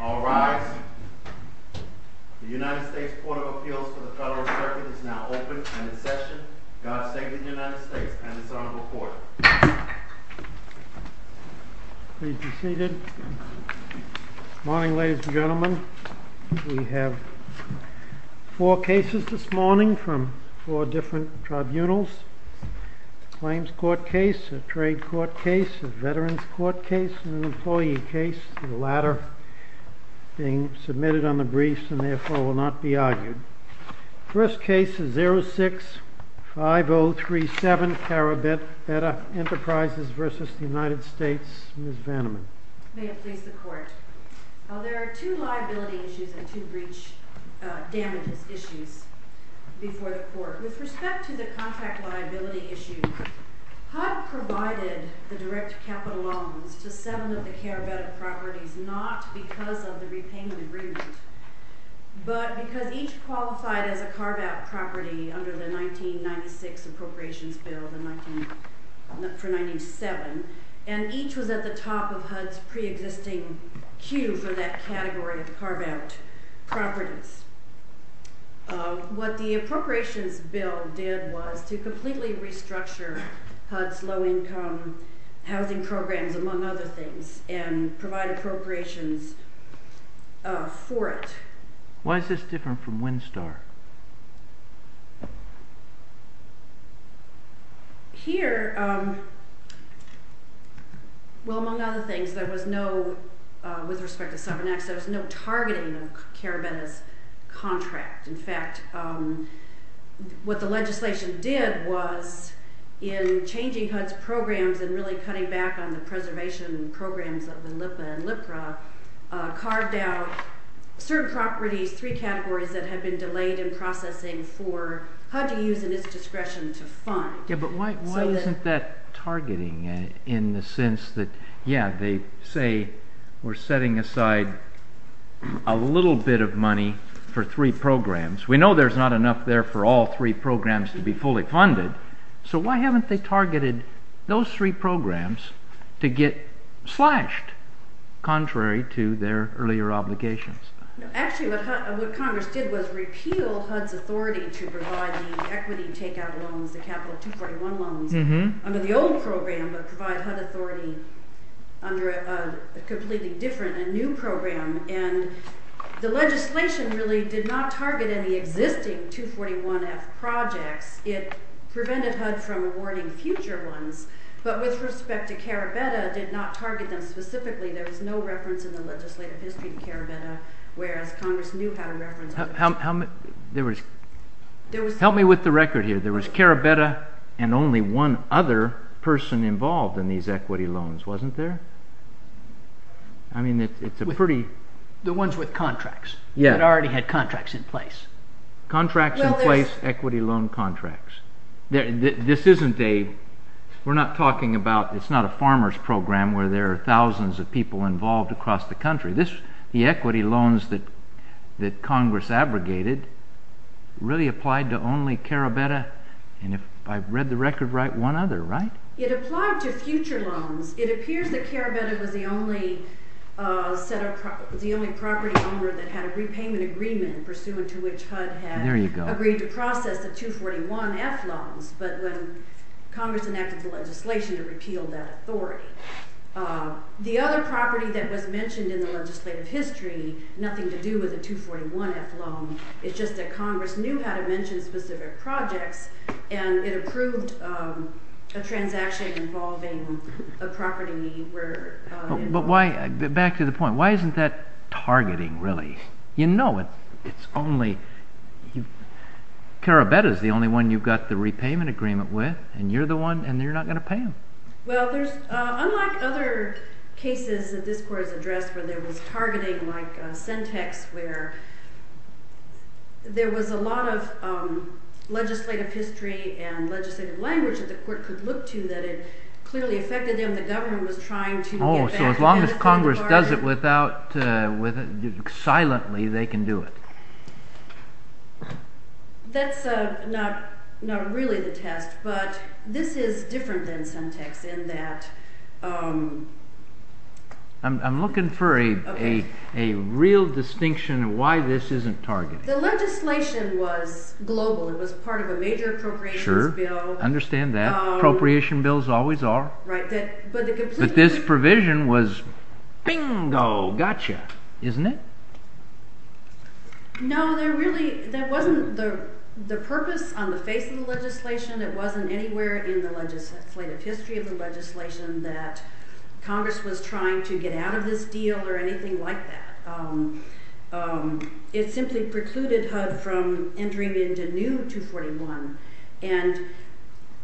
All rise. The United States Court of Appeals for the Federal Circuit is now open and in session. God save the United States and its honorable court. Please be seated. Good morning ladies and gentlemen. We have four cases this morning from four different tribunals. A claims court case, a trade court case, a veterans court case, and an employee case. The latter being submitted on the briefs and therefore will not be argued. First case is 06-5037 Carabetta Enterprises v. United States. Ms. Vanneman. May it please the court. There are two liability issues and two breach damages issues before the court. With respect to the contract liability issue, HUD provided the direct capital loans to seven of the Carabetta properties not because of the repayment agreement, but because each qualified as a Carabetta property under the 1996 appropriations bill for 97 and each was at the top of HUD's pre-existing queue for that category of Carabetta properties. What the appropriations bill did was to completely restructure HUD's low-income housing programs, among other things, and provide appropriations for it. Why is this different from WinStar? Here, well among other things, there was no, with respect to 7X, there was no targeting of Carabetta's contract. In fact, what the legislation did was, in changing HUD's programs and really cutting back on the preservation programs of the LIPA and LIPRA, carved out certain properties, three categories, that had been delayed in processing for HUD to use in its discretion to fund. But why isn't that targeting in the sense that, yeah, they say we're setting aside a little bit of money for three programs. We know there's not enough there for all three programs to be fully funded, so why haven't they targeted those three programs to get slashed, contrary to their earlier obligations? Actually, what Congress did was repeal HUD's authority to provide the equity takeout loans, the capital 241 loans, under the old program, but provide HUD authority under a completely different and new program. And the legislation really did not target any existing 241F projects. It prevented HUD from awarding future ones, but with respect to Carabetta, did not target them specifically. There was no reference in the legislative history to Carabetta, whereas Congress knew how to reference... Help me with the record here. There was Carabetta and only one other person involved in these equity loans, wasn't there? I mean, it's a pretty... The ones with contracts. Yeah. That already had contracts in place. Contracts in place, equity loan contracts. This isn't a... We're not talking about... It's not a farmer's program where there are thousands of people involved across the country. The equity loans that Congress abrogated really applied to only Carabetta, and if I've read the record right, one other, right? It applied to future loans. It appears that Carabetta was the only property owner that had a repayment agreement, pursuant to which HUD had agreed to process the 241F loans, but when Congress enacted the legislation, it repealed that authority. The other property that was mentioned in the legislative history, nothing to do with the 241F loan, it's just that Congress knew how to mention specific projects, and it approved a transaction involving a property where... But why... Back to the point. Why isn't that targeting, really? You know it's only... Carabetta's the only one you've got the repayment agreement with, and you're the one, and you're not going to pay them. Well, there's... Unlike other cases that this court has addressed where there was targeting, like Sentex, where there was a lot of legislative history and legislative language that the court could look to that it clearly affected them. Oh, so as long as Congress does it silently, they can do it. I'm looking for a real distinction of why this isn't targeting. Sure, I understand that. Appropriation bills always are. But this provision was, bingo, gotcha, isn't it? No, there really... That wasn't the purpose on the face of the legislation. It wasn't anywhere in the legislative history of the legislation that Congress was trying to get out of this deal or anything like that. It simply precluded HUD from entering into new 241. And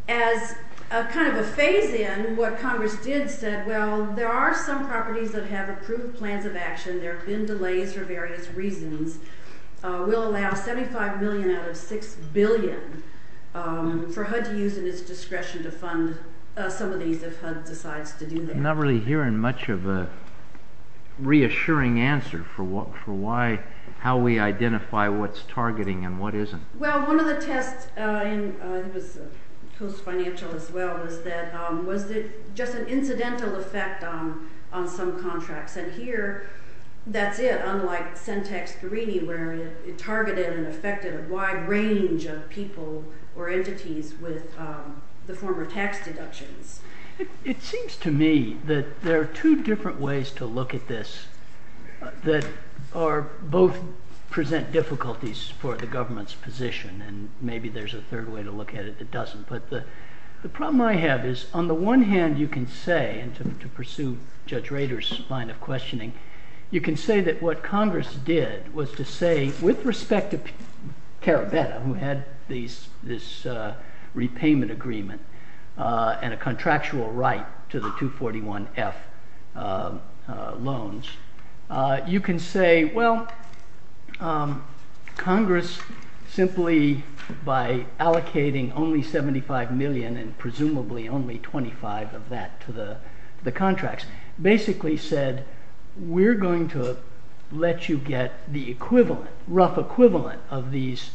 as kind of a phase-in, what Congress did said, well, there are some properties that have approved plans of action. There have been delays for various reasons. We'll allow $75 million out of $6 billion for HUD to use in its discretion to fund some of these if HUD decides to do that. I'm not really hearing much of a reassuring answer for how we identify what's targeting and what isn't. Well, one of the tests, I think it was post-financial as well, was that, was it just an incidental effect on some contracts? And here, that's it, unlike Sentex Guarini, where it targeted and affected a wide range of people or entities with the former tax deductions. It seems to me that there are two different ways to look at this that both present difficulties for the government's position. And maybe there's a third way to look at it that doesn't. But the problem I have is, on the one hand, you can say, and to pursue Judge Rader's line of questioning, you can say that what Congress did was to say, with respect to Carabetta, who had this repayment agreement and a contractual right to the 241F loans, you can say, well, Congress, simply by allocating only $75 million and presumably only $25 of that to the contracts, basically said, we're going to let you get the equivalent, rough equivalent of these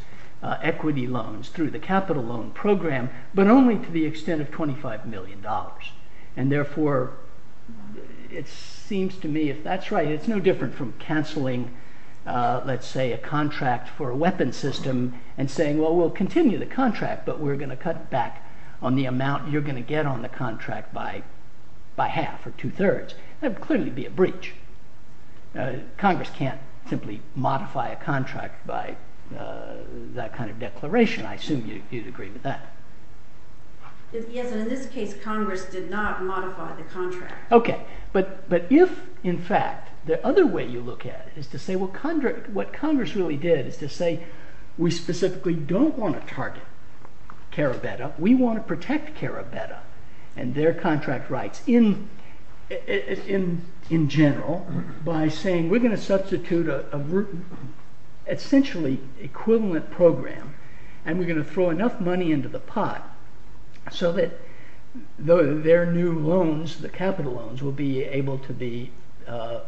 equity loans through the capital loan program, but only to the extent of $25 million. And therefore, it seems to me, if that's right, it's no different from cancelling, let's say, a contract for a weapons system and saying, well, we'll continue the contract, but we're going to cut back on the amount you're going to get on the contract by half or two thirds. That would clearly be a breach. Congress can't simply modify a contract by that kind of declaration. I assume you'd agree with that. Yes, and in this case, Congress did not modify the contract. OK, but if, in fact, the other way you look at it is to say, well, what Congress really did is to say, we specifically don't want to target Carabetta. We want to protect Carabetta and their contract rights in general by saying, we're going to substitute an essentially equivalent program, and we're going to throw enough money into the pot so that their new loans, the capital loans, will be able to be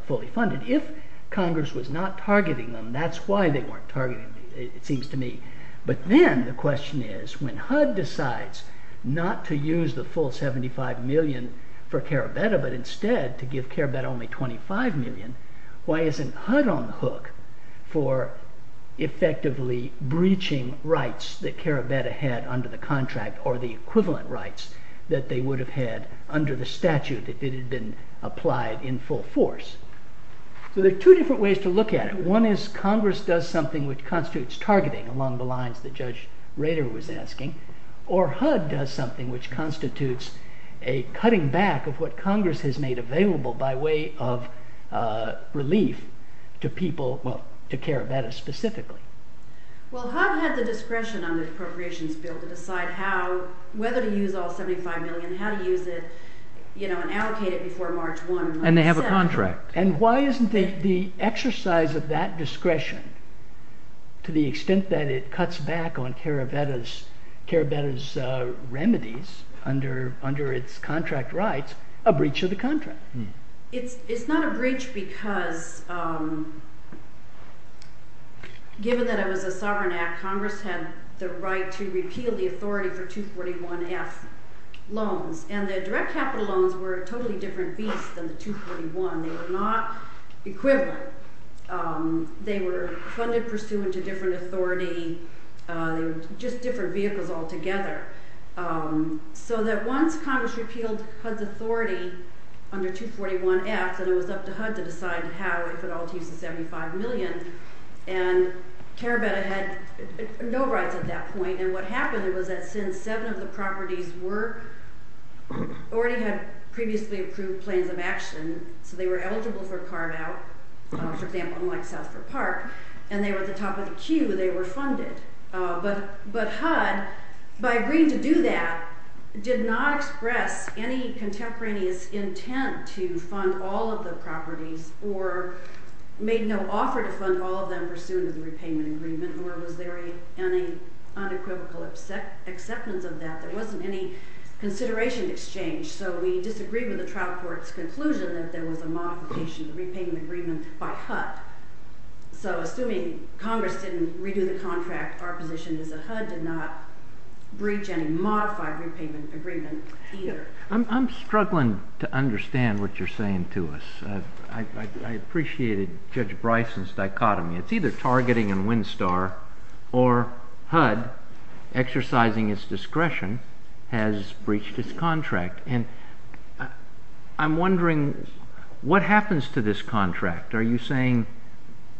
fully funded. If Congress was not targeting them, that's why they weren't targeting them, it seems to me. But then the question is, when HUD decides not to use the full $75 million for Carabetta, but instead to give Carabetta only $25 million, why isn't HUD on the hook for effectively breaching rights that Carabetta had under the contract, or the equivalent rights that they would have had under the statute if it had been applied in full force? So there are two different ways to look at it. One is Congress does something which constitutes targeting along the lines that Judge Rader was asking, or HUD does something which constitutes a cutting back of what Congress has made available by way of relief to people, well, to Carabetta specifically. Well, HUD had the discretion on the appropriations bill to decide whether to use all $75 million, how to use it, and allocate it before March 1. And they have a contract. And why isn't the exercise of that discretion, to the extent that it cuts back on Carabetta's remedies under its contract rights, a breach of the contract? It's not a breach because, given that it was a sovereign act, Congress had the right to repeal the authority for 241F loans. And the direct capital loans were a totally different beast than the 241. They were not equivalent. They were funded pursuant to different authority. They were just different vehicles altogether. So that once Congress repealed HUD's authority under 241F, then it was up to HUD to decide how, if at all, to use the $75 million. And Carabetta had no rights at that point. And what happened was that since seven of the properties already had previously approved plans of action, so they were eligible for carve-out, for example, unlike South Fork Park, and they were at the top of the queue, they were funded. But HUD, by agreeing to do that, did not express any contemporaneous intent to fund all of the properties or made no offer to fund all of them pursuant to the repayment agreement, nor was there any unequivocal acceptance of that. There wasn't any consideration to exchange. So we disagreed with the trial court's conclusion that there was a modification to the repayment agreement by HUD. So assuming Congress didn't redo the contract, our position is that HUD did not breach any modified repayment agreement either. I'm struggling to understand what you're saying to us. I appreciated Judge Bryson's dichotomy. It's either targeting and WinStar or HUD exercising its discretion has breached its contract. And I'm wondering what happens to this contract. Are you saying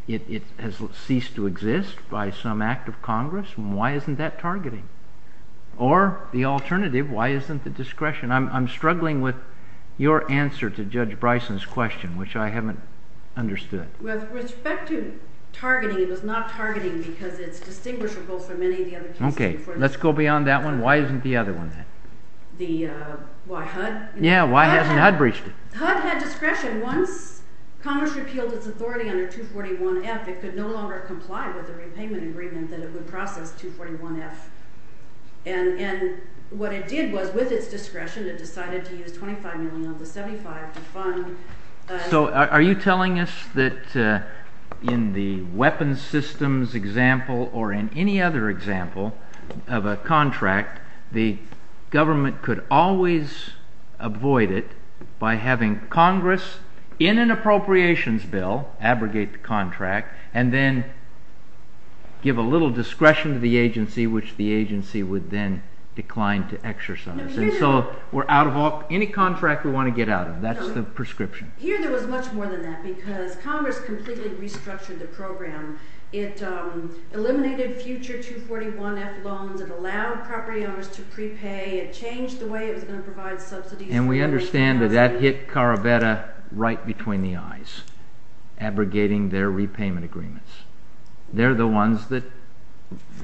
it has ceased to exist by some act of Congress? Why isn't that targeting? Or the alternative, why isn't the discretion? I'm struggling with your answer to Judge Bryson's question, which I haven't understood. With respect to targeting, it was not targeting because it's distinguishable from any of the other cases before this. Okay, let's go beyond that one. Why isn't the other one then? The why HUD? Yeah, why hasn't HUD breached it? HUD had discretion. Once Congress repealed its authority under 241F, it could no longer comply with the repayment agreement that it would process 241F. And what it did was, with its discretion, it decided to use $25 million of the $75 million to fund. So are you telling us that in the weapons systems example or in any other example of a contract, the government could always avoid it by having Congress, in an appropriations bill, abrogate the contract, and then give a little discretion to the agency, which the agency would then decline to exercise. So we're out of any contract we want to get out of. That's the prescription. Here there was much more than that because Congress completely restructured the program. It eliminated future 241F loans. It allowed property owners to prepay. It changed the way it was going to provide subsidies. And we understand that that hit Carabetta right between the eyes, abrogating their repayment agreements. They're the ones that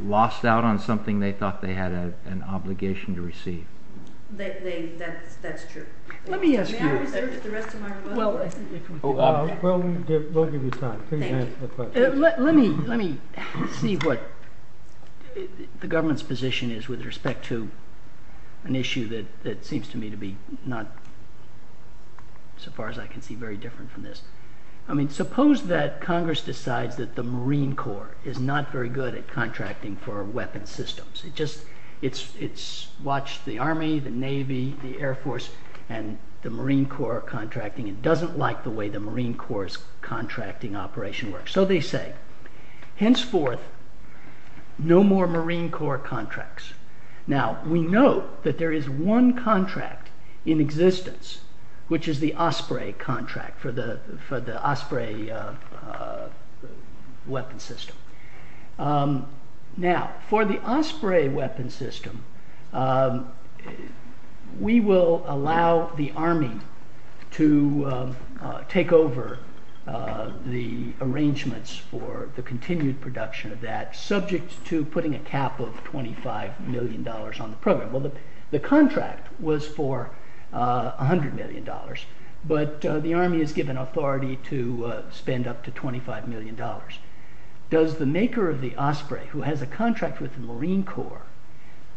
lost out on something they thought they had an obligation to receive. That's true. Let me ask you. May I reserve the rest of my question? We'll give you time. Please answer the question. Let me see what the government's position is with respect to an issue that seems to me to be not, so far as I can see, very different from this. I mean, suppose that Congress decides that the Marine Corps is not very good at contracting for weapons systems. It's watched the Army, the Navy, the Air Force, and the Marine Corps contracting. It doesn't like the way the Marine Corps' contracting operation works. So they say, henceforth, no more Marine Corps contracts. Now, we know that there is one contract in existence, which is the Osprey contract for the Osprey weapon system. Now, for the Osprey weapon system, we will allow the Army to take over the arrangements for the continued production of that, subject to putting a cap of $25 million on the program. Well, the contract was for $100 million, but the Army is given authority to spend up to $25 million. Does the maker of the Osprey, who has a contract with the Marine Corps,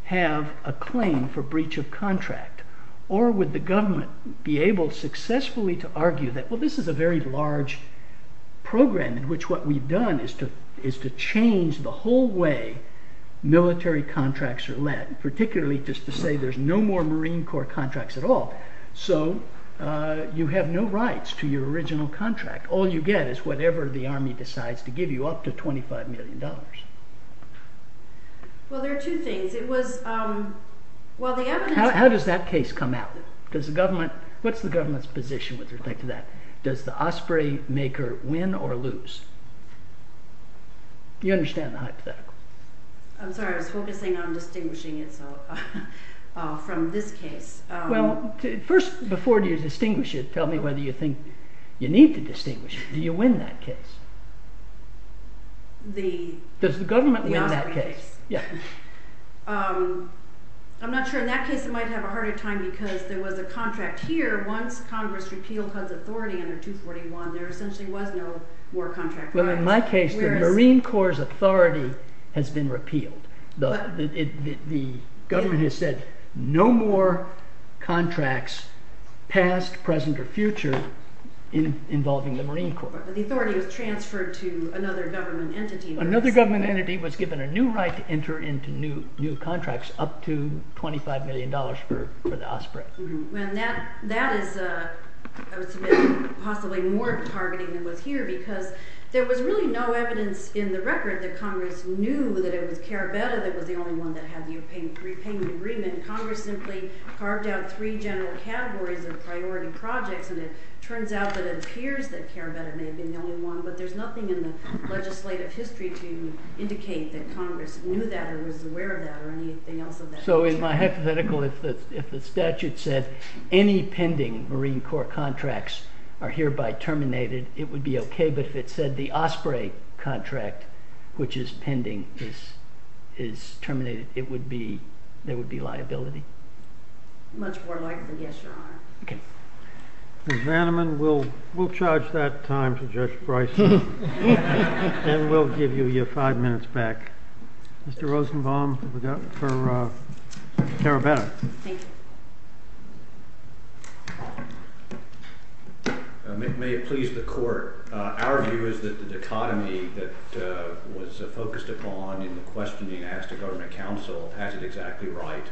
have a claim for breach of contract? Or would the government be able successfully to argue that, well, this is a very large program, in which what we've done is to change the whole way military contracts are led, particularly just to say there's no more Marine Corps contracts at all. So you have no rights to your original contract. All you get is whatever the Army decides to give you, up to $25 million. Well, there are two things. How does that case come out? What's the government's position with respect to that? Does the Osprey maker win or lose? Do you understand the hypothetical? I'm sorry, I was focusing on distinguishing it from this case. Well, first, before you distinguish it, tell me whether you think you need to distinguish it. Do you win that case? Does the government win that case? I'm not sure. In that case, it might have a harder time because there was a contract here. Once Congress repealed HUD's authority under 241, there essentially was no more contract. Well, in my case, the Marine Corps' authority has been repealed. The government has said no more contracts, past, present, or future, involving the Marine Corps. But the authority was transferred to another government entity. Another government entity was given a new right to enter into new contracts, up to $25 million for the Osprey. And that is possibly more targeting than was here because there was really no evidence in the record that Congress knew that it was Carabetta that was the only one that had the repayment agreement. Congress simply carved out three general categories of priority projects, and it turns out that it appears that Carabetta may have been the only one, but there's nothing in the legislative history to indicate that Congress knew that or was aware of that or anything else of that nature. So in my hypothetical, if the statute said any pending Marine Corps contracts are hereby terminated, it would be okay, but if it said the Osprey contract, which is pending, is terminated, there would be liability? Much more likely, yes, Your Honor. Ms. Vanneman, we'll charge that time to Judge Bryson, and we'll give you your five minutes back. Mr. Rosenbaum, we've got it for Carabetta. Thank you. May it please the Court, our view is that the dichotomy that was focused upon in the question being asked of government counsel has it exactly right,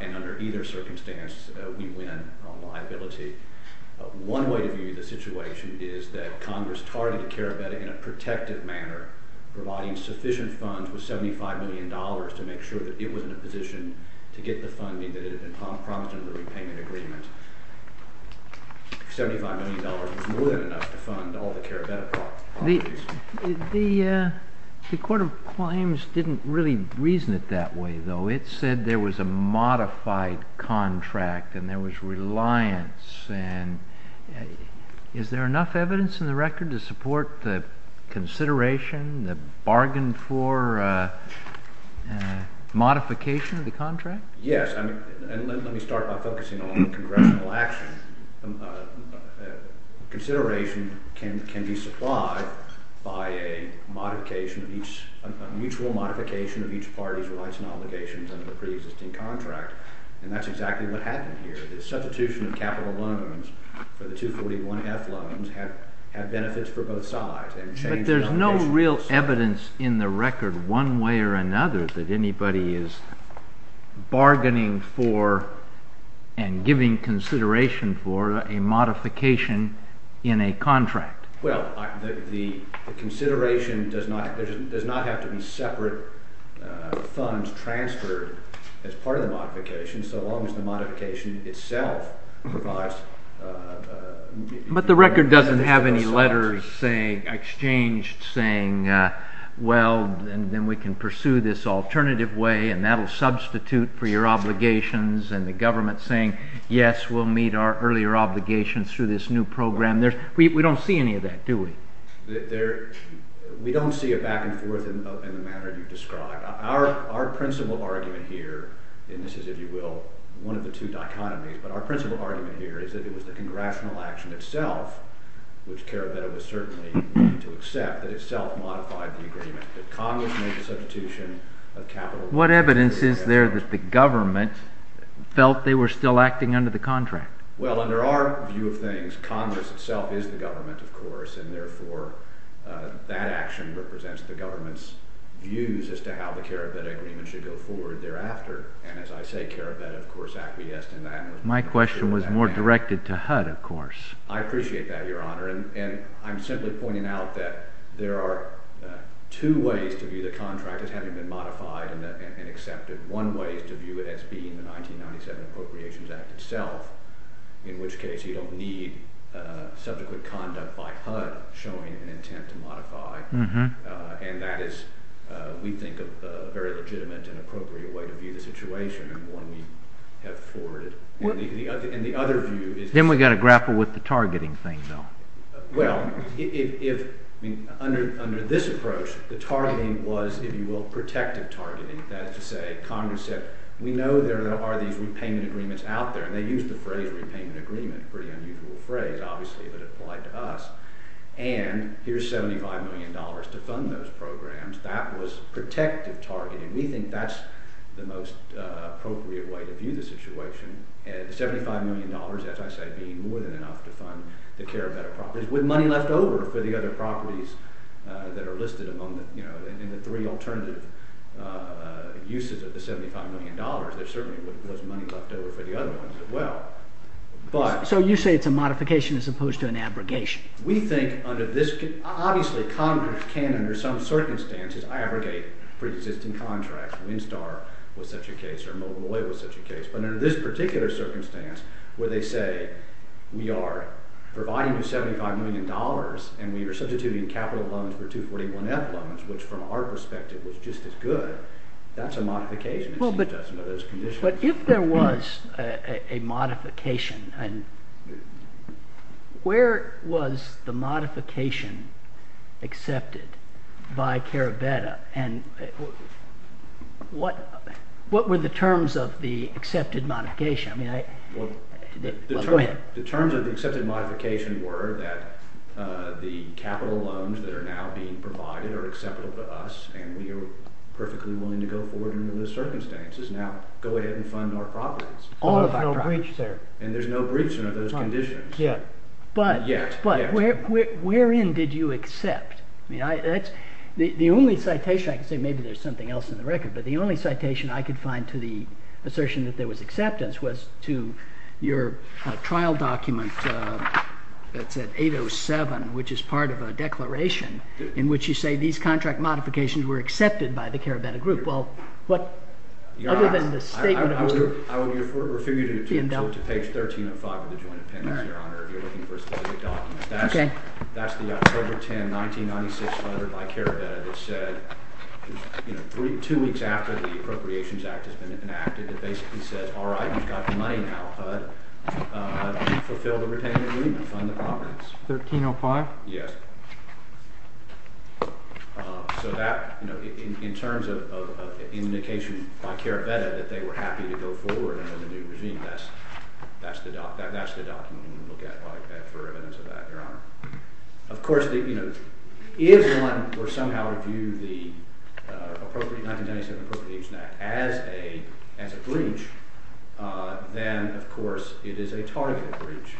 and under either circumstance we win on liability. One way to view the situation is that Congress targeted Carabetta in a protective manner, providing sufficient funds with $75 million to make sure that it was in a position to get the funding that had been promised under the repayment agreement. $75 million was more than enough to fund all the Carabetta properties. The Court of Claims didn't really reason it that way, though. It said there was a modified contract and there was reliance. Is there enough evidence in the record to support the consideration, the bargain for modification of the contract? Yes, and let me start by focusing on congressional action. Consideration can be supplied by a mutual modification of each party's rights and obligations under the preexisting contract, and that's exactly what happened here. The substitution of capital loans for the 241F loans had benefits for both sides. But there's no real evidence in the record, one way or another, that anybody is bargaining for and giving consideration for a modification in a contract. Well, the consideration does not have to be separate funds transferred as part of the modification, so long as the modification itself provides... But the record doesn't have any letters exchanged saying, well, then we can pursue this alternative way and that will substitute for your obligations, and the government saying, yes, we'll meet our earlier obligations through this new program. We don't see any of that, do we? We don't see it back and forth in the manner you described. Our principal argument here, and this is, if you will, one of the two dichotomies, but our principal argument here is that it was the congressional action itself, which Carabello was certainly willing to accept, that itself modified the agreement, that Congress made the substitution of capital... What evidence is there that the government felt they were still acting under the contract? Well, under our view of things, Congress itself is the government, of course, and therefore that action represents the government's views as to how the Carabet Agreement should go forward thereafter. And as I say, Carabet, of course, acquiesced in that... My question was more directed to HUD, of course. I appreciate that, Your Honor, and I'm simply pointing out that there are two ways to view the contract as having been modified and accepted. One way is to view it as being the 1997 Appropriations Act itself, in which case you don't need subsequent conduct by HUD showing an intent to modify. And that is, we think, a very legitimate and appropriate way to view the situation, and one we have forwarded. And the other view is... Then we've got to grapple with the targeting thing, though. Well, under this approach, the targeting was, if you will, protective targeting. That is to say, Congress said, we know there are these repayment agreements out there, and they used the phrase repayment agreement, a pretty unusual phrase, obviously, but it applied to us, and here's $75 million to fund those programs. That was protective targeting. We think that's the most appropriate way to view the situation. The $75 million, as I said, being more than enough to fund the Carabet Appropriations, with money left over for the other properties that are listed among them, and the three alternative uses of the $75 million, there certainly was money left over for the other ones as well. So you say it's a modification as opposed to an abrogation. We think under this... Obviously Congress can, under some circumstances, abrogate pre-existing contracts. Windstar was such a case, or Mobile Oil was such a case. But under this particular circumstance, where they say we are providing you $75 million, and we are substituting capital loans for 241F loans, which from our perspective was just as good, that's a modification. But if there was a modification, where was the modification accepted by Carabeta? And what were the terms of the accepted modification? The terms of the accepted modification were that the capital loans that are now being provided are acceptable to us, and we are perfectly willing to go forward under those circumstances. Now go ahead and fund our properties. And there's no breach under those conditions. But wherein did you accept? The only citation I can say, maybe there's something else in the record, but the only citation I could find to the assertion that there was acceptance was to your trial document that's at 807, which is part of a declaration in which you say these contract modifications were accepted by the Carabeta Group. Well, other than the statement... I would refer you to page 1305 of the joint appendix, Your Honor, if you're looking for a specific document. That's the October 10, 1996 letter by Carabeta that said two weeks after the Appropriations Act has been enacted, it basically says, all right, you've got the money now, HUD, fulfill the retained agreement, fund the properties. 1305? Yes. So that, in terms of indication by Carabeta that they were happy to go forward under the new regime, that's the document you look at for evidence of that, Your Honor. Of course, if one were somehow to view the 1997 Appropriations Act as a breach, then, of course, it is a targeted breach.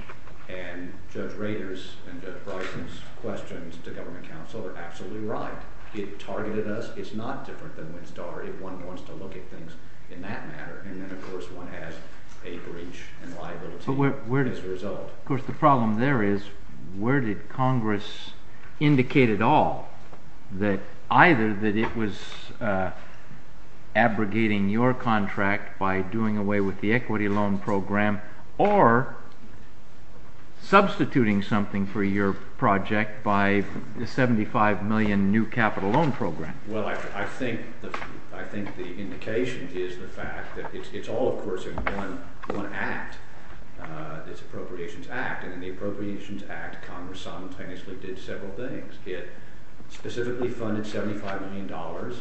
And Judge Rader's and Judge Bryson's questions to government counsel are absolutely right. It targeted us. It's not different than Winstar if one wants to look at things in that matter. Of course, the problem there is where did Congress indicate at all that either that it was abrogating your contract by doing away with the equity loan program or substituting something for your project by the $75 million new capital loan program? Well, I think the indication is the fact that it's all, of course, in one act, this Appropriations Act, and in the Appropriations Act, Congress simultaneously did several things. It specifically funded $75 million.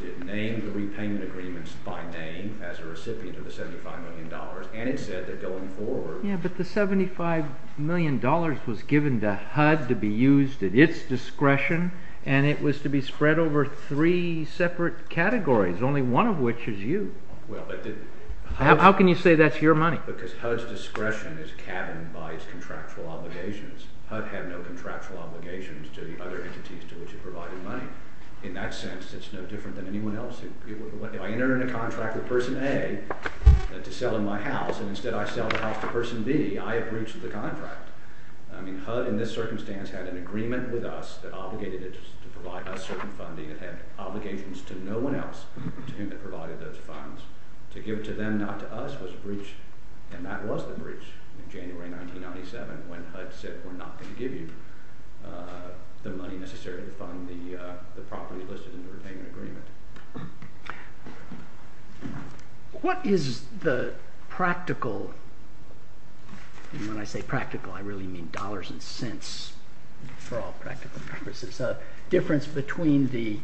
It named the repayment agreements by name as a recipient of the $75 million, and it said that going forward... Yes, but the $75 million was given to HUD to be used at its discretion, and it was to be spread over three separate categories, only one of which is you. How can you say that's your money? Because HUD's discretion is cabined by its contractual obligations. HUD had no contractual obligations to the other entities to which it provided money. In that sense, it's no different than anyone else. If I enter in a contract with person A to sell in my house, and instead I sell the house to person B, I have breached the contract. I mean HUD in this circumstance had an agreement with us that obligated it to provide us certain funding that had obligations to no one else to whom it provided those funds. To give it to them, not to us, was a breach, and that was the breach in January 1997 when HUD said we're not going to give you the money necessary to fund the properties listed in the repayment agreement. What is the practical... And when I say practical, I really mean dollars and cents for all practical purposes. It's a difference between the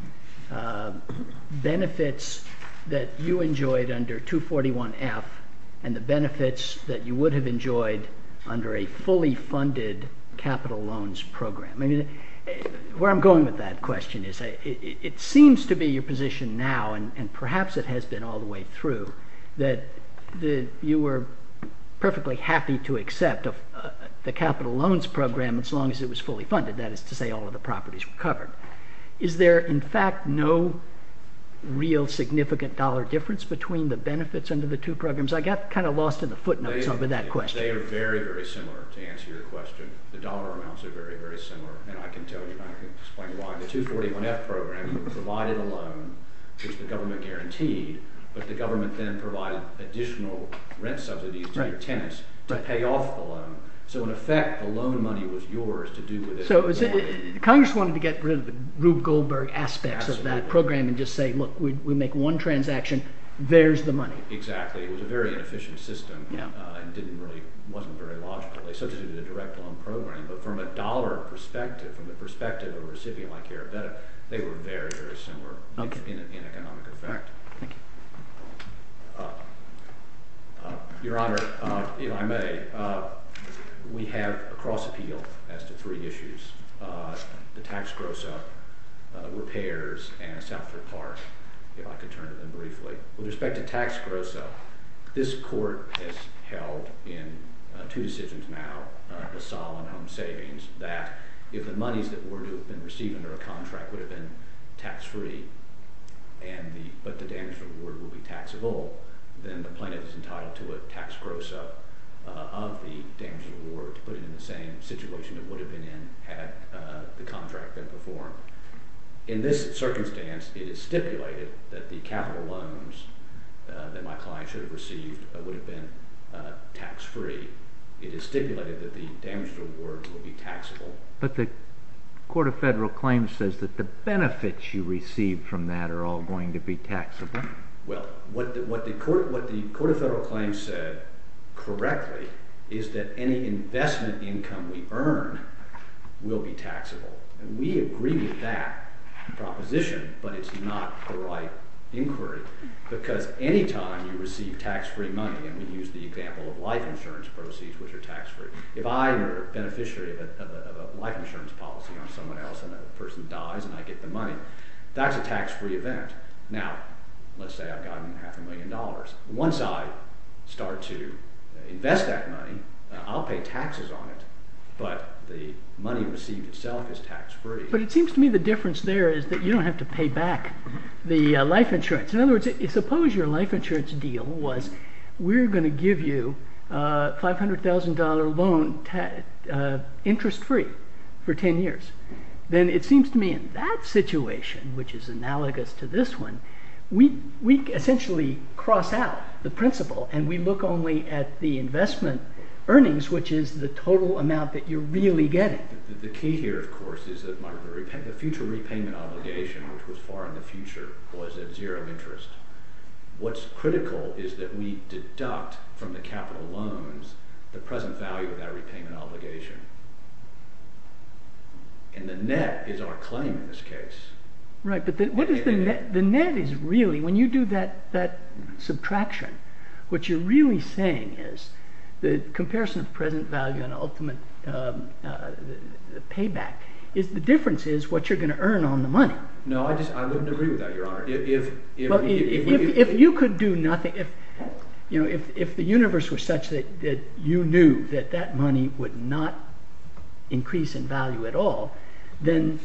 benefits that you enjoyed under 241F and the benefits that you would have enjoyed under a fully funded capital loans program. Where I'm going with that question is it seems to be your position now, and perhaps it has been all the way through, that you were perfectly happy to accept the capital loans program as long as it was fully funded. That is to say all of the properties were covered. Is there, in fact, no real significant dollar difference between the benefits under the two programs? I got kind of lost in the footnotes over that question. They are very, very similar, to answer your question. The dollar amounts are very, very similar, and I can tell you and I can explain why. The 241F program provided a loan, which the government guaranteed, but the government then provided additional rent subsidies to your tenants to pay off the loan. So, in effect, the loan money was yours to do with it. So, Congress wanted to get rid of the Rube Goldberg aspects of that program and just say, look, we make one transaction, there's the money. Exactly. It was a very inefficient system. It wasn't very logical. They substituted a direct loan program, but from a dollar perspective, from the perspective of a recipient like Aribetta, they were very, very similar in economic effect. Thank you. Your Honor, Eli May, we have a cross-appeal as to three issues. The tax gross-up, repairs, and a southward park, if I could turn to them briefly. With respect to tax gross-up, this court has held in two decisions now, LaSalle and Home Savings, that if the monies that were to have been received under a contract would have been tax-free, but the damaged award would be taxable, then the plaintiff is entitled to a tax gross-up of the damaged award, put it in the same situation it would have been in had the contract been performed. In this circumstance, it is stipulated that the capital loans that my client should have received would have been tax-free. It is stipulated that the damaged award would be taxable. But the Court of Federal Claims says that the benefits you receive from that are all going to be taxable. Well, what the Court of Federal Claims said correctly is that any investment income we earn will be taxable. And we agree with that proposition, but it's not the right inquiry because any time you receive tax-free money, and we use the example of life insurance proceeds, which are tax-free, if I were a beneficiary of a life insurance policy on someone else and a person dies and I get the money, that's a tax-free event. Now, let's say I've gotten half a million dollars. Once I start to invest that money, I'll pay taxes on it, but the money received itself is tax-free. But it seems to me the difference there is that you don't have to pay back the life insurance. In other words, suppose your life insurance deal was we're going to give you a $500,000 loan interest-free for 10 years. Then it seems to me in that situation, which is analogous to this one, we essentially cross out the principle and we look only at the investment earnings, which is the total amount that you're really getting. The key here, of course, is that the future repayment obligation, which was far in the future, was at zero interest. What's critical is that we deduct from the capital loans the present value of that repayment obligation. And the net is our claim in this case. Right, but what is the net? The net is really, when you do that subtraction, what you're really saying is the comparison of present value and ultimate payback, the difference is what you're going to earn on the money. No, I wouldn't agree with that, Your Honor. If you could do nothing, if the universe was such that you knew that that money would not increase in value at all, then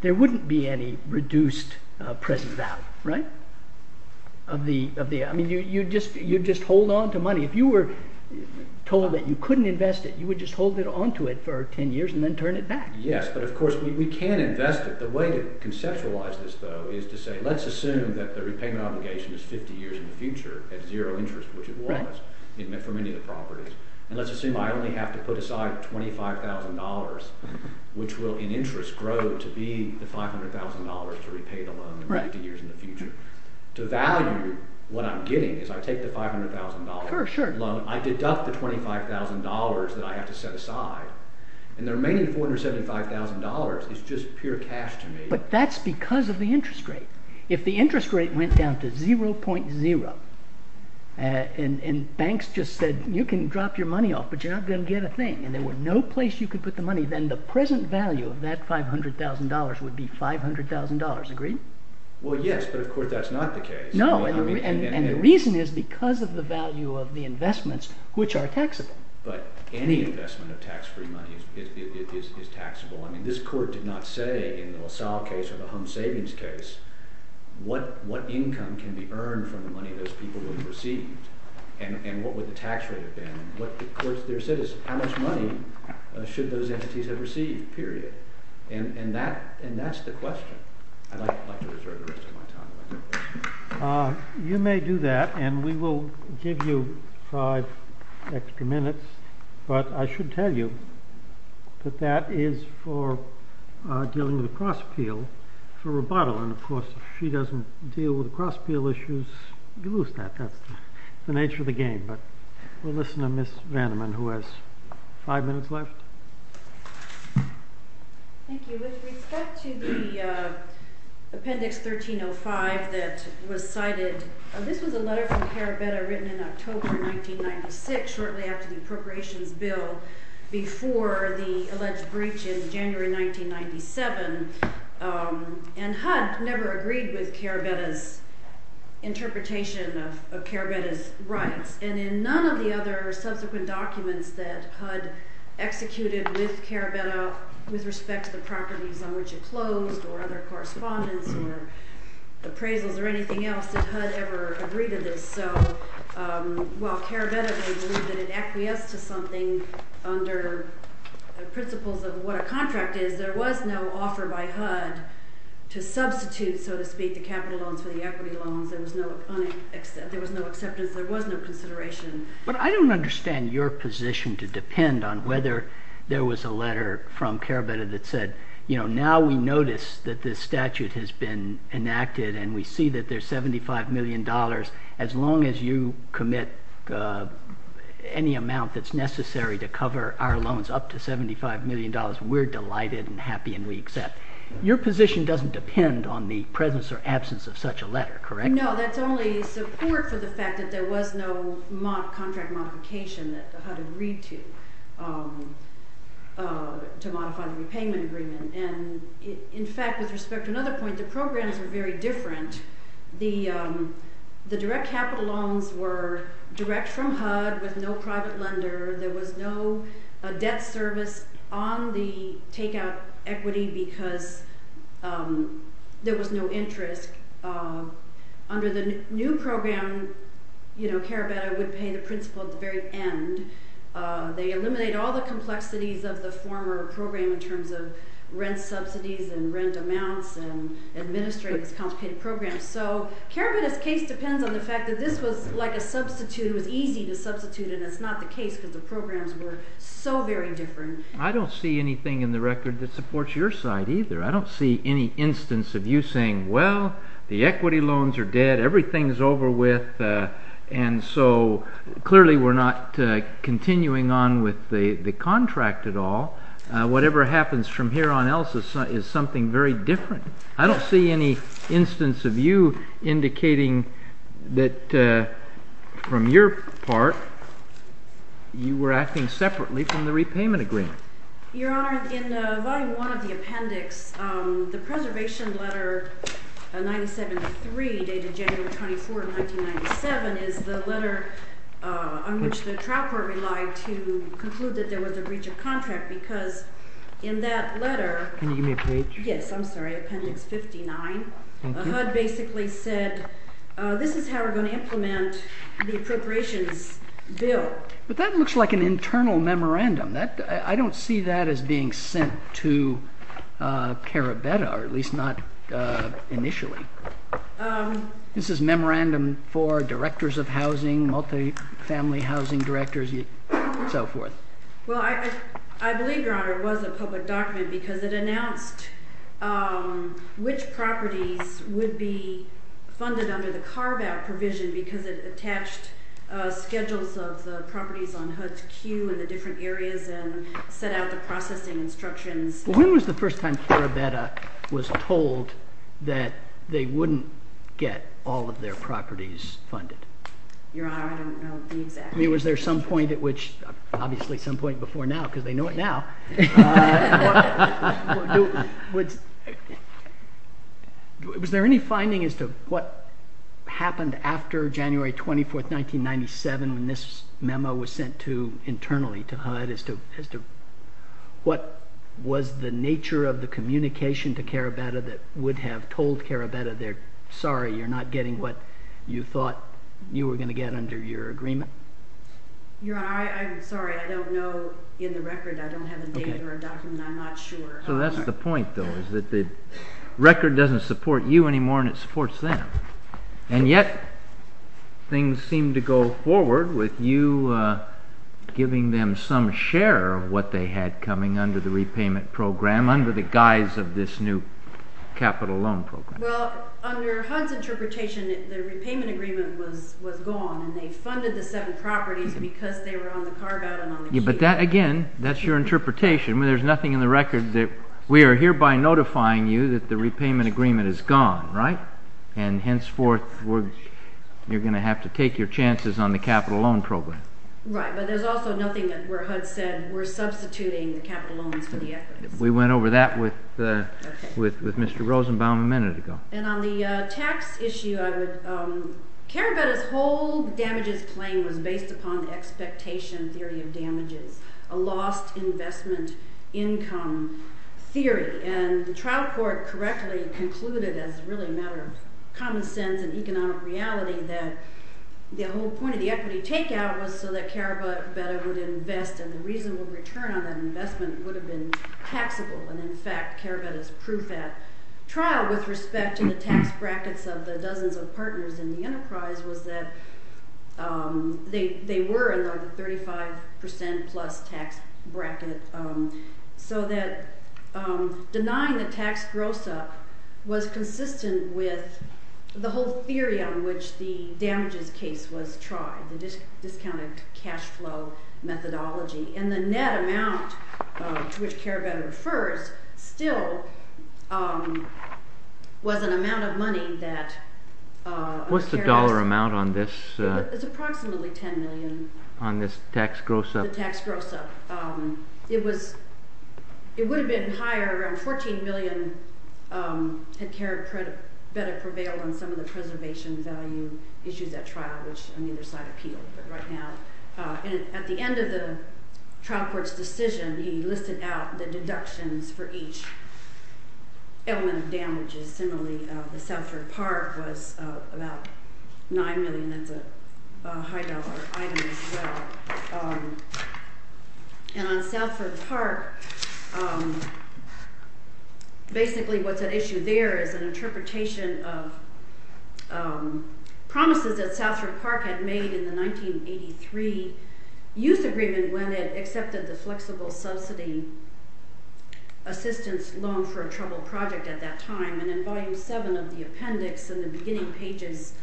there wouldn't be any reduced present value. You'd just hold on to money. If you were told that you couldn't invest it, you would just hold on to it for 10 years and then turn it back. Yes, but of course we can invest it. The way to conceptualize this, though, is to say let's assume that the repayment obligation is 50 years in the future at zero interest, which it was for many of the properties. And let's assume I only have to put aside $25,000 which will in interest grow to be the $500,000 to repay the loan in 50 years in the future. To value what I'm getting is I take the $500,000 loan, I deduct the $25,000 that I have to set aside, and the remaining $475,000 is just pure cash to me. But that's because of the interest rate. If the interest rate went down to 0.0 and banks just said you can drop your money off but you're not going to get a thing and there was no place you could put the money, then the present value of that $500,000 would be $500,000. Agreed? Well, yes, but of course that's not the case. No, and the reason is because of the value of the investments which are taxable. But any investment of tax-free money is taxable. This court did not say in the LaSalle case or the home savings case, what income can be earned from the money those people would have received and what would the tax rate have been. What the court there said is how much money should those entities have received, period. And that's the question. I'd like to reserve the rest of my time. You may do that and we will give you five extra minutes, but I should tell you that that is for dealing with a cross-appeal for Roboto. And of course, if she doesn't deal with cross-appeal issues, you lose that. That's the nature of the game. But we'll listen to Ms. Vanderman who has five minutes left. Thank you. With respect to the Appendix 1305 that was cited, this was a letter from Carabetta written in October 1996, shortly after the Appropriations Bill, before the alleged breach in January 1997. And HUD never agreed with Carabetta's interpretation of Carabetta's rights. And in none of the other subsequent documents that HUD executed with Carabetta with respect to the properties on which it closed or other correspondence or appraisals or anything else, did HUD ever agree to this. While Carabetta believed that it acquiesced to something under the principles of what a contract is, there was no offer by HUD to substitute, so to speak, the capital loans for the equity loans. There was no acceptance. There was no consideration. But I don't understand your position to depend on whether there was a letter from Carabetta that said, you know, now we notice that this statute has been enacted and we see that there's $75 million as long as you commit any amount that's necessary to cover our loans up to $75 million, we're delighted and happy and we accept. Your position doesn't depend on the presence or absence of such a letter, correct? No, that's only support for the fact that there was no contract modification that HUD agreed to to modify the repayment agreement. And in fact, with respect to another point, the programs are very different. The direct capital loans were direct from HUD with no private lender. There was no debt service on the takeout equity because there was no interest. Under the new program, you know, Carabetta would pay the principal at the very end. They eliminate all the complexities of the former program in terms of rent subsidies and rent amounts and administrate these complicated programs. So Carabetta's case depends on the fact that this was like a substitute. It was easy to substitute and it's not the case because the programs were so very different. I don't see anything in the record that supports your side either. I don't see any instance of you saying, well, the equity loans are dead, everything's over with, and so clearly we're not continuing on with the contract at all. Whatever happens from here on out is something very different. I don't see any instance of you indicating that from your part, you were acting separately from the repayment agreement. Your Honor, in Volume 1 of the appendix, the preservation letter 97-3 dated January 24, 1997 is the letter on which the trial court relied to conclude that there was a breach of contract because in that letter... Can you give me a page? Yes, I'm sorry. Appendix 59. HUD basically said, this is how we're going to implement the appropriations bill. But that looks like an internal memorandum. I don't see that as being sent to Carabetta, or at least not initially. This is memorandum for directors of housing, multifamily housing directors, and so forth. Well, I believe, Your Honor, it was a public document because it announced which properties would be funded under the carve-out provision because it attached schedules of the properties on HUD's queue in the different areas and set out the processing instructions. When was the first time Carabetta was told that they wouldn't get all of their properties funded? Your Honor, I don't know the exact date. Was there some point at which, obviously some point before now, because they know it now. Was there any finding as to what happened after January 24, 1997, when this memo was sent internally to HUD? What was the nature of the communication to Carabetta that would have told Carabetta, sorry, you're not getting what you thought you were going to get under your agreement? Your Honor, I'm sorry. I don't know in the record. I don't have a date or a document. I'm not sure. So that's the point, though, is that the record doesn't support you anymore and it supports them. And yet, things seem to go forward with you giving them some share of what they had coming under the repayment program under the guise of this new capital loan program. Well, under HUD's interpretation, the repayment agreement was gone and they funded the seven properties because they were on the carve-out. But that, again, that's your interpretation. There's nothing in the record. We are hereby notifying you that the repayment agreement is gone, right? And henceforth, you're going to have to take your chances on the capital loan program. Right, but there's also nothing where HUD said we're substituting the capital loans for the equities. We went over that with Mr. Rosenbaum a minute ago. And on the tax issue, Carabetta's whole damages claim was based upon the expectation theory of damages, a lost investment income theory. And the trial court correctly concluded, as really a matter of common sense and economic reality, that the whole point of the equity takeout was so that Carabetta would invest and the reasonable return on that investment would have been taxable. And in fact, Carabetta's proof at trial with respect to the tax brackets of the dozens of partners in the enterprise was that they were in the 35%-plus tax bracket, so that denying the tax gross-up was consistent with the whole theory on which the damages case was tried, the discounted cash flow methodology. And the net amount to which Carabetta refers still was an amount of money that... What's the dollar amount on this? It's approximately $10 million. On this tax gross-up? The tax gross-up. It would have been higher. Around $14 million had Carabetta prevailed on some of the preservation value issues at trial, which on either side appealed, but right now... And at the end of the trial court's decision, he listed out the deductions for each element of damages. Similarly, the Salford Park was about $9 million. That's a high-dollar item as well. And on Salford Park, basically what's at issue there is an interpretation of promises that Salford Park had made in the 1983 youth agreement when it accepted the flexible subsidy assistance loan for a troubled project at that time. And in Volume 7 of the appendix in the beginning pages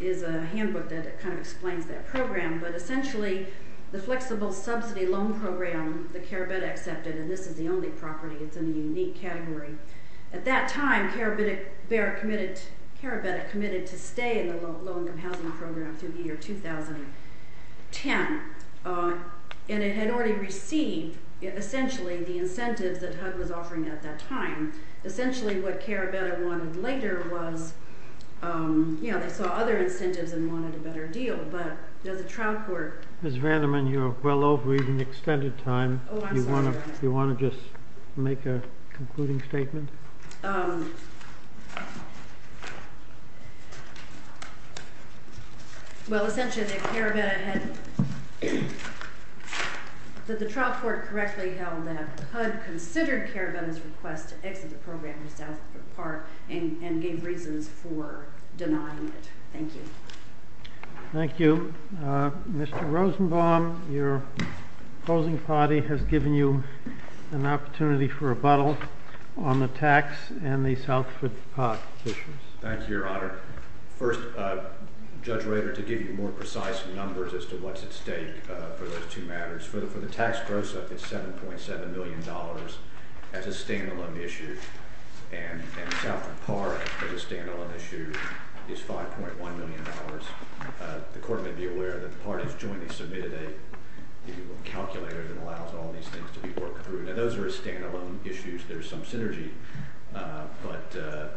is a handbook that kind of explains that program. But essentially, the flexible subsidy loan program that Carabetta accepted... And this is the only property. It's in a unique category. At that time, Carabetta committed to stay in the low-income housing program through the year 2010. And it had already received, essentially, the incentives that HUD was offering at that time. Essentially, what Carabetta wanted later was... You know, they saw other incentives and wanted a better deal, but the trial court... Ms. Vanderman, you're well over your extended time. Oh, I'm sorry. Do you want to just make a concluding statement? Well, essentially, Carabetta had... HUD considered Carabetta's request to exit the program in Southford Park and gave reasons for denying it. Thank you. Thank you. Mr. Rosenbaum, your opposing party has given you an opportunity for rebuttal on the tax and the Southford Park issues. Thank you, Your Honor. First, Judge Rader, to give you more precise numbers as to what's at stake for those two matters. For the tax gross-up, it's $7.7 million as a stand-alone issue. And Southford Park, as a stand-alone issue, is $5.1 million. The court may be aware that the parties jointly submitted a calculator that allows all these things to be worked through. Now, those are stand-alone issues. There's some synergy. But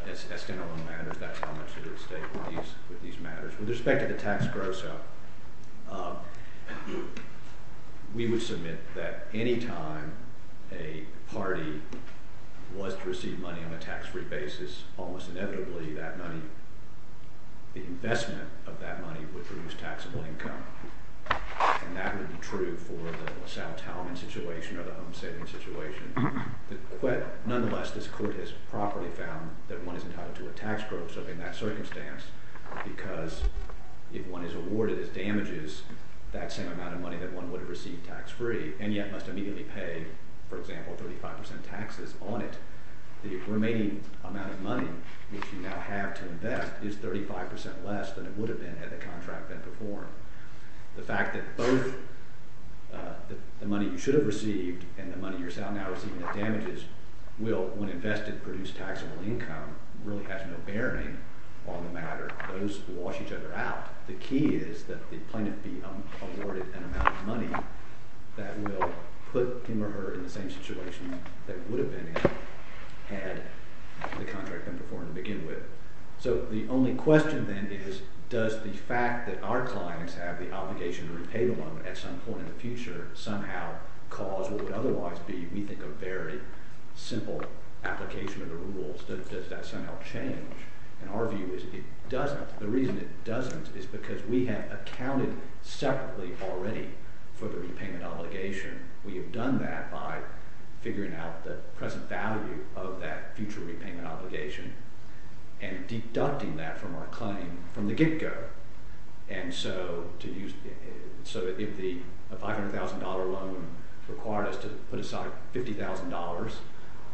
as stand-alone matters, that's how much they're at stake with these matters. With respect to the tax gross-up, we would submit that any time a party was to receive money on a tax-free basis, almost inevitably that money, the investment of that money, would produce taxable income. And that would be true for the Sal Talman situation or the home-saving situation. But nonetheless, this court has properly found that one is entitled to a tax gross-up in that circumstance because if one is awarded as damages that same amount of money that one would have received tax-free and yet must immediately pay, for example, 35% taxes on it, the remaining amount of money which you now have to invest is 35% less than it would have been had the contract been performed. The fact that both the money you should have received and the money you're now receiving as damages will, when invested, produce taxable income really has no bearing on the matter. Those wash each other out. The key is that the plaintiff be awarded an amount of money that will put him or her in the same situation they would have been in had the contract been performed to begin with. So the only question then is, does the fact that our clients have the obligation to repay the loan at some point in the future somehow cause what would otherwise be, we think, a very simple application of the rules? Does that somehow change? And our view is it doesn't. The reason it doesn't is because we have accounted separately already for the repayment obligation. We have done that by figuring out the present value of that future repayment obligation and deducting that from our claim from the get-go. And so if the $500,000 loan required us to put aside $50,000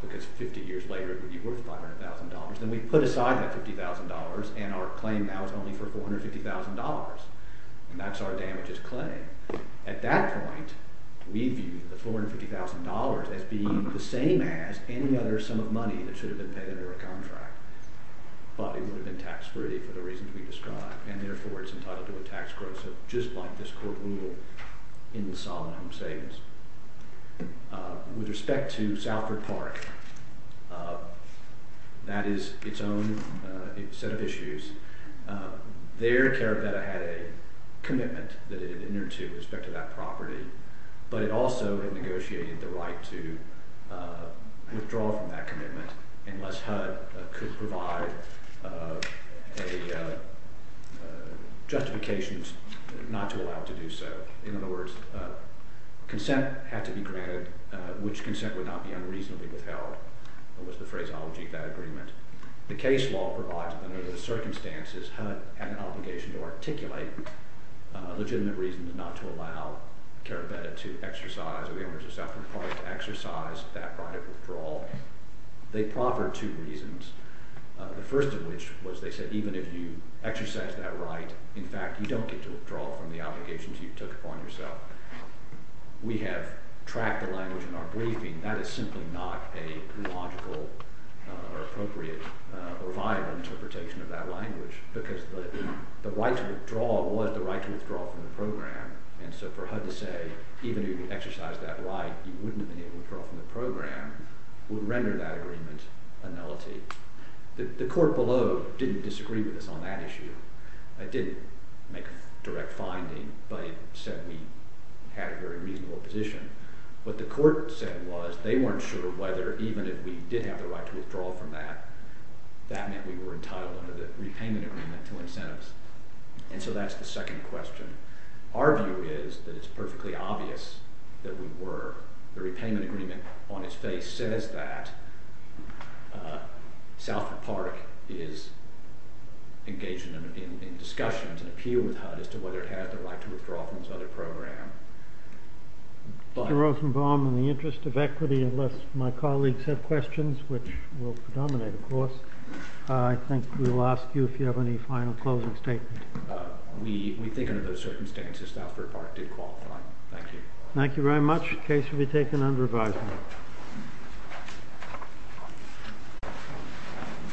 because 50 years later it would be worth $500,000, then we put aside that $50,000 and our claim now is only for $450,000. And that's our damages claim. At that point, we view the $450,000 as being the same as any other sum of money that should have been paid under a contract. But it would have been tax-free for the reasons we described, and therefore it's entitled to a tax gross just like this court rule in the Sovereign Home Savings. With respect to Salford Park, that is its own set of issues, their CARABEDA had a commitment that it had entered to with respect to that property, but it also had negotiated the right to withdraw from that commitment unless HUD could provide a justification not to allow it to do so. In other words, consent had to be granted, which consent would not be unreasonably withheld, was the phraseology of that agreement. The case law provides that under the circumstances, HUD had an obligation to articulate legitimate reasons not to allow CARABEDA to exercise, or the owners of Salford Park to exercise that right of withdrawal. They proffered two reasons. The first of which was they said even if you exercise that right, in fact, you don't get to withdraw from the obligations you took upon yourself. We have tracked the language in our briefing. That is simply not a logical or appropriate or viable interpretation of that language because the right to withdraw was the right to withdraw from the program, and so for HUD to say even if you exercise that right, you wouldn't have been able to withdraw from the program would render that agreement a nullity. The court below didn't disagree with us on that issue. It didn't make a direct finding, but it said we had a very reasonable position. What the court said was they weren't sure whether even if we did have the right to withdraw from that, that meant we were entitled under the repayment agreement to incentives, and so that's the second question. Our view is that it's perfectly obvious that we were. The repayment agreement on its face says that Salford Park is engaged in discussions and appeal with HUD as to whether it had the right to withdraw from this other program. Mr. Rosenbaum, in the interest of equity, unless my colleagues have questions, which will predominate, of course, I think we will ask you if you have any final closing statement. We think under those circumstances Salford Park did qualify. Thank you. Thank you very much. Case will be taken under advisement. Thank you.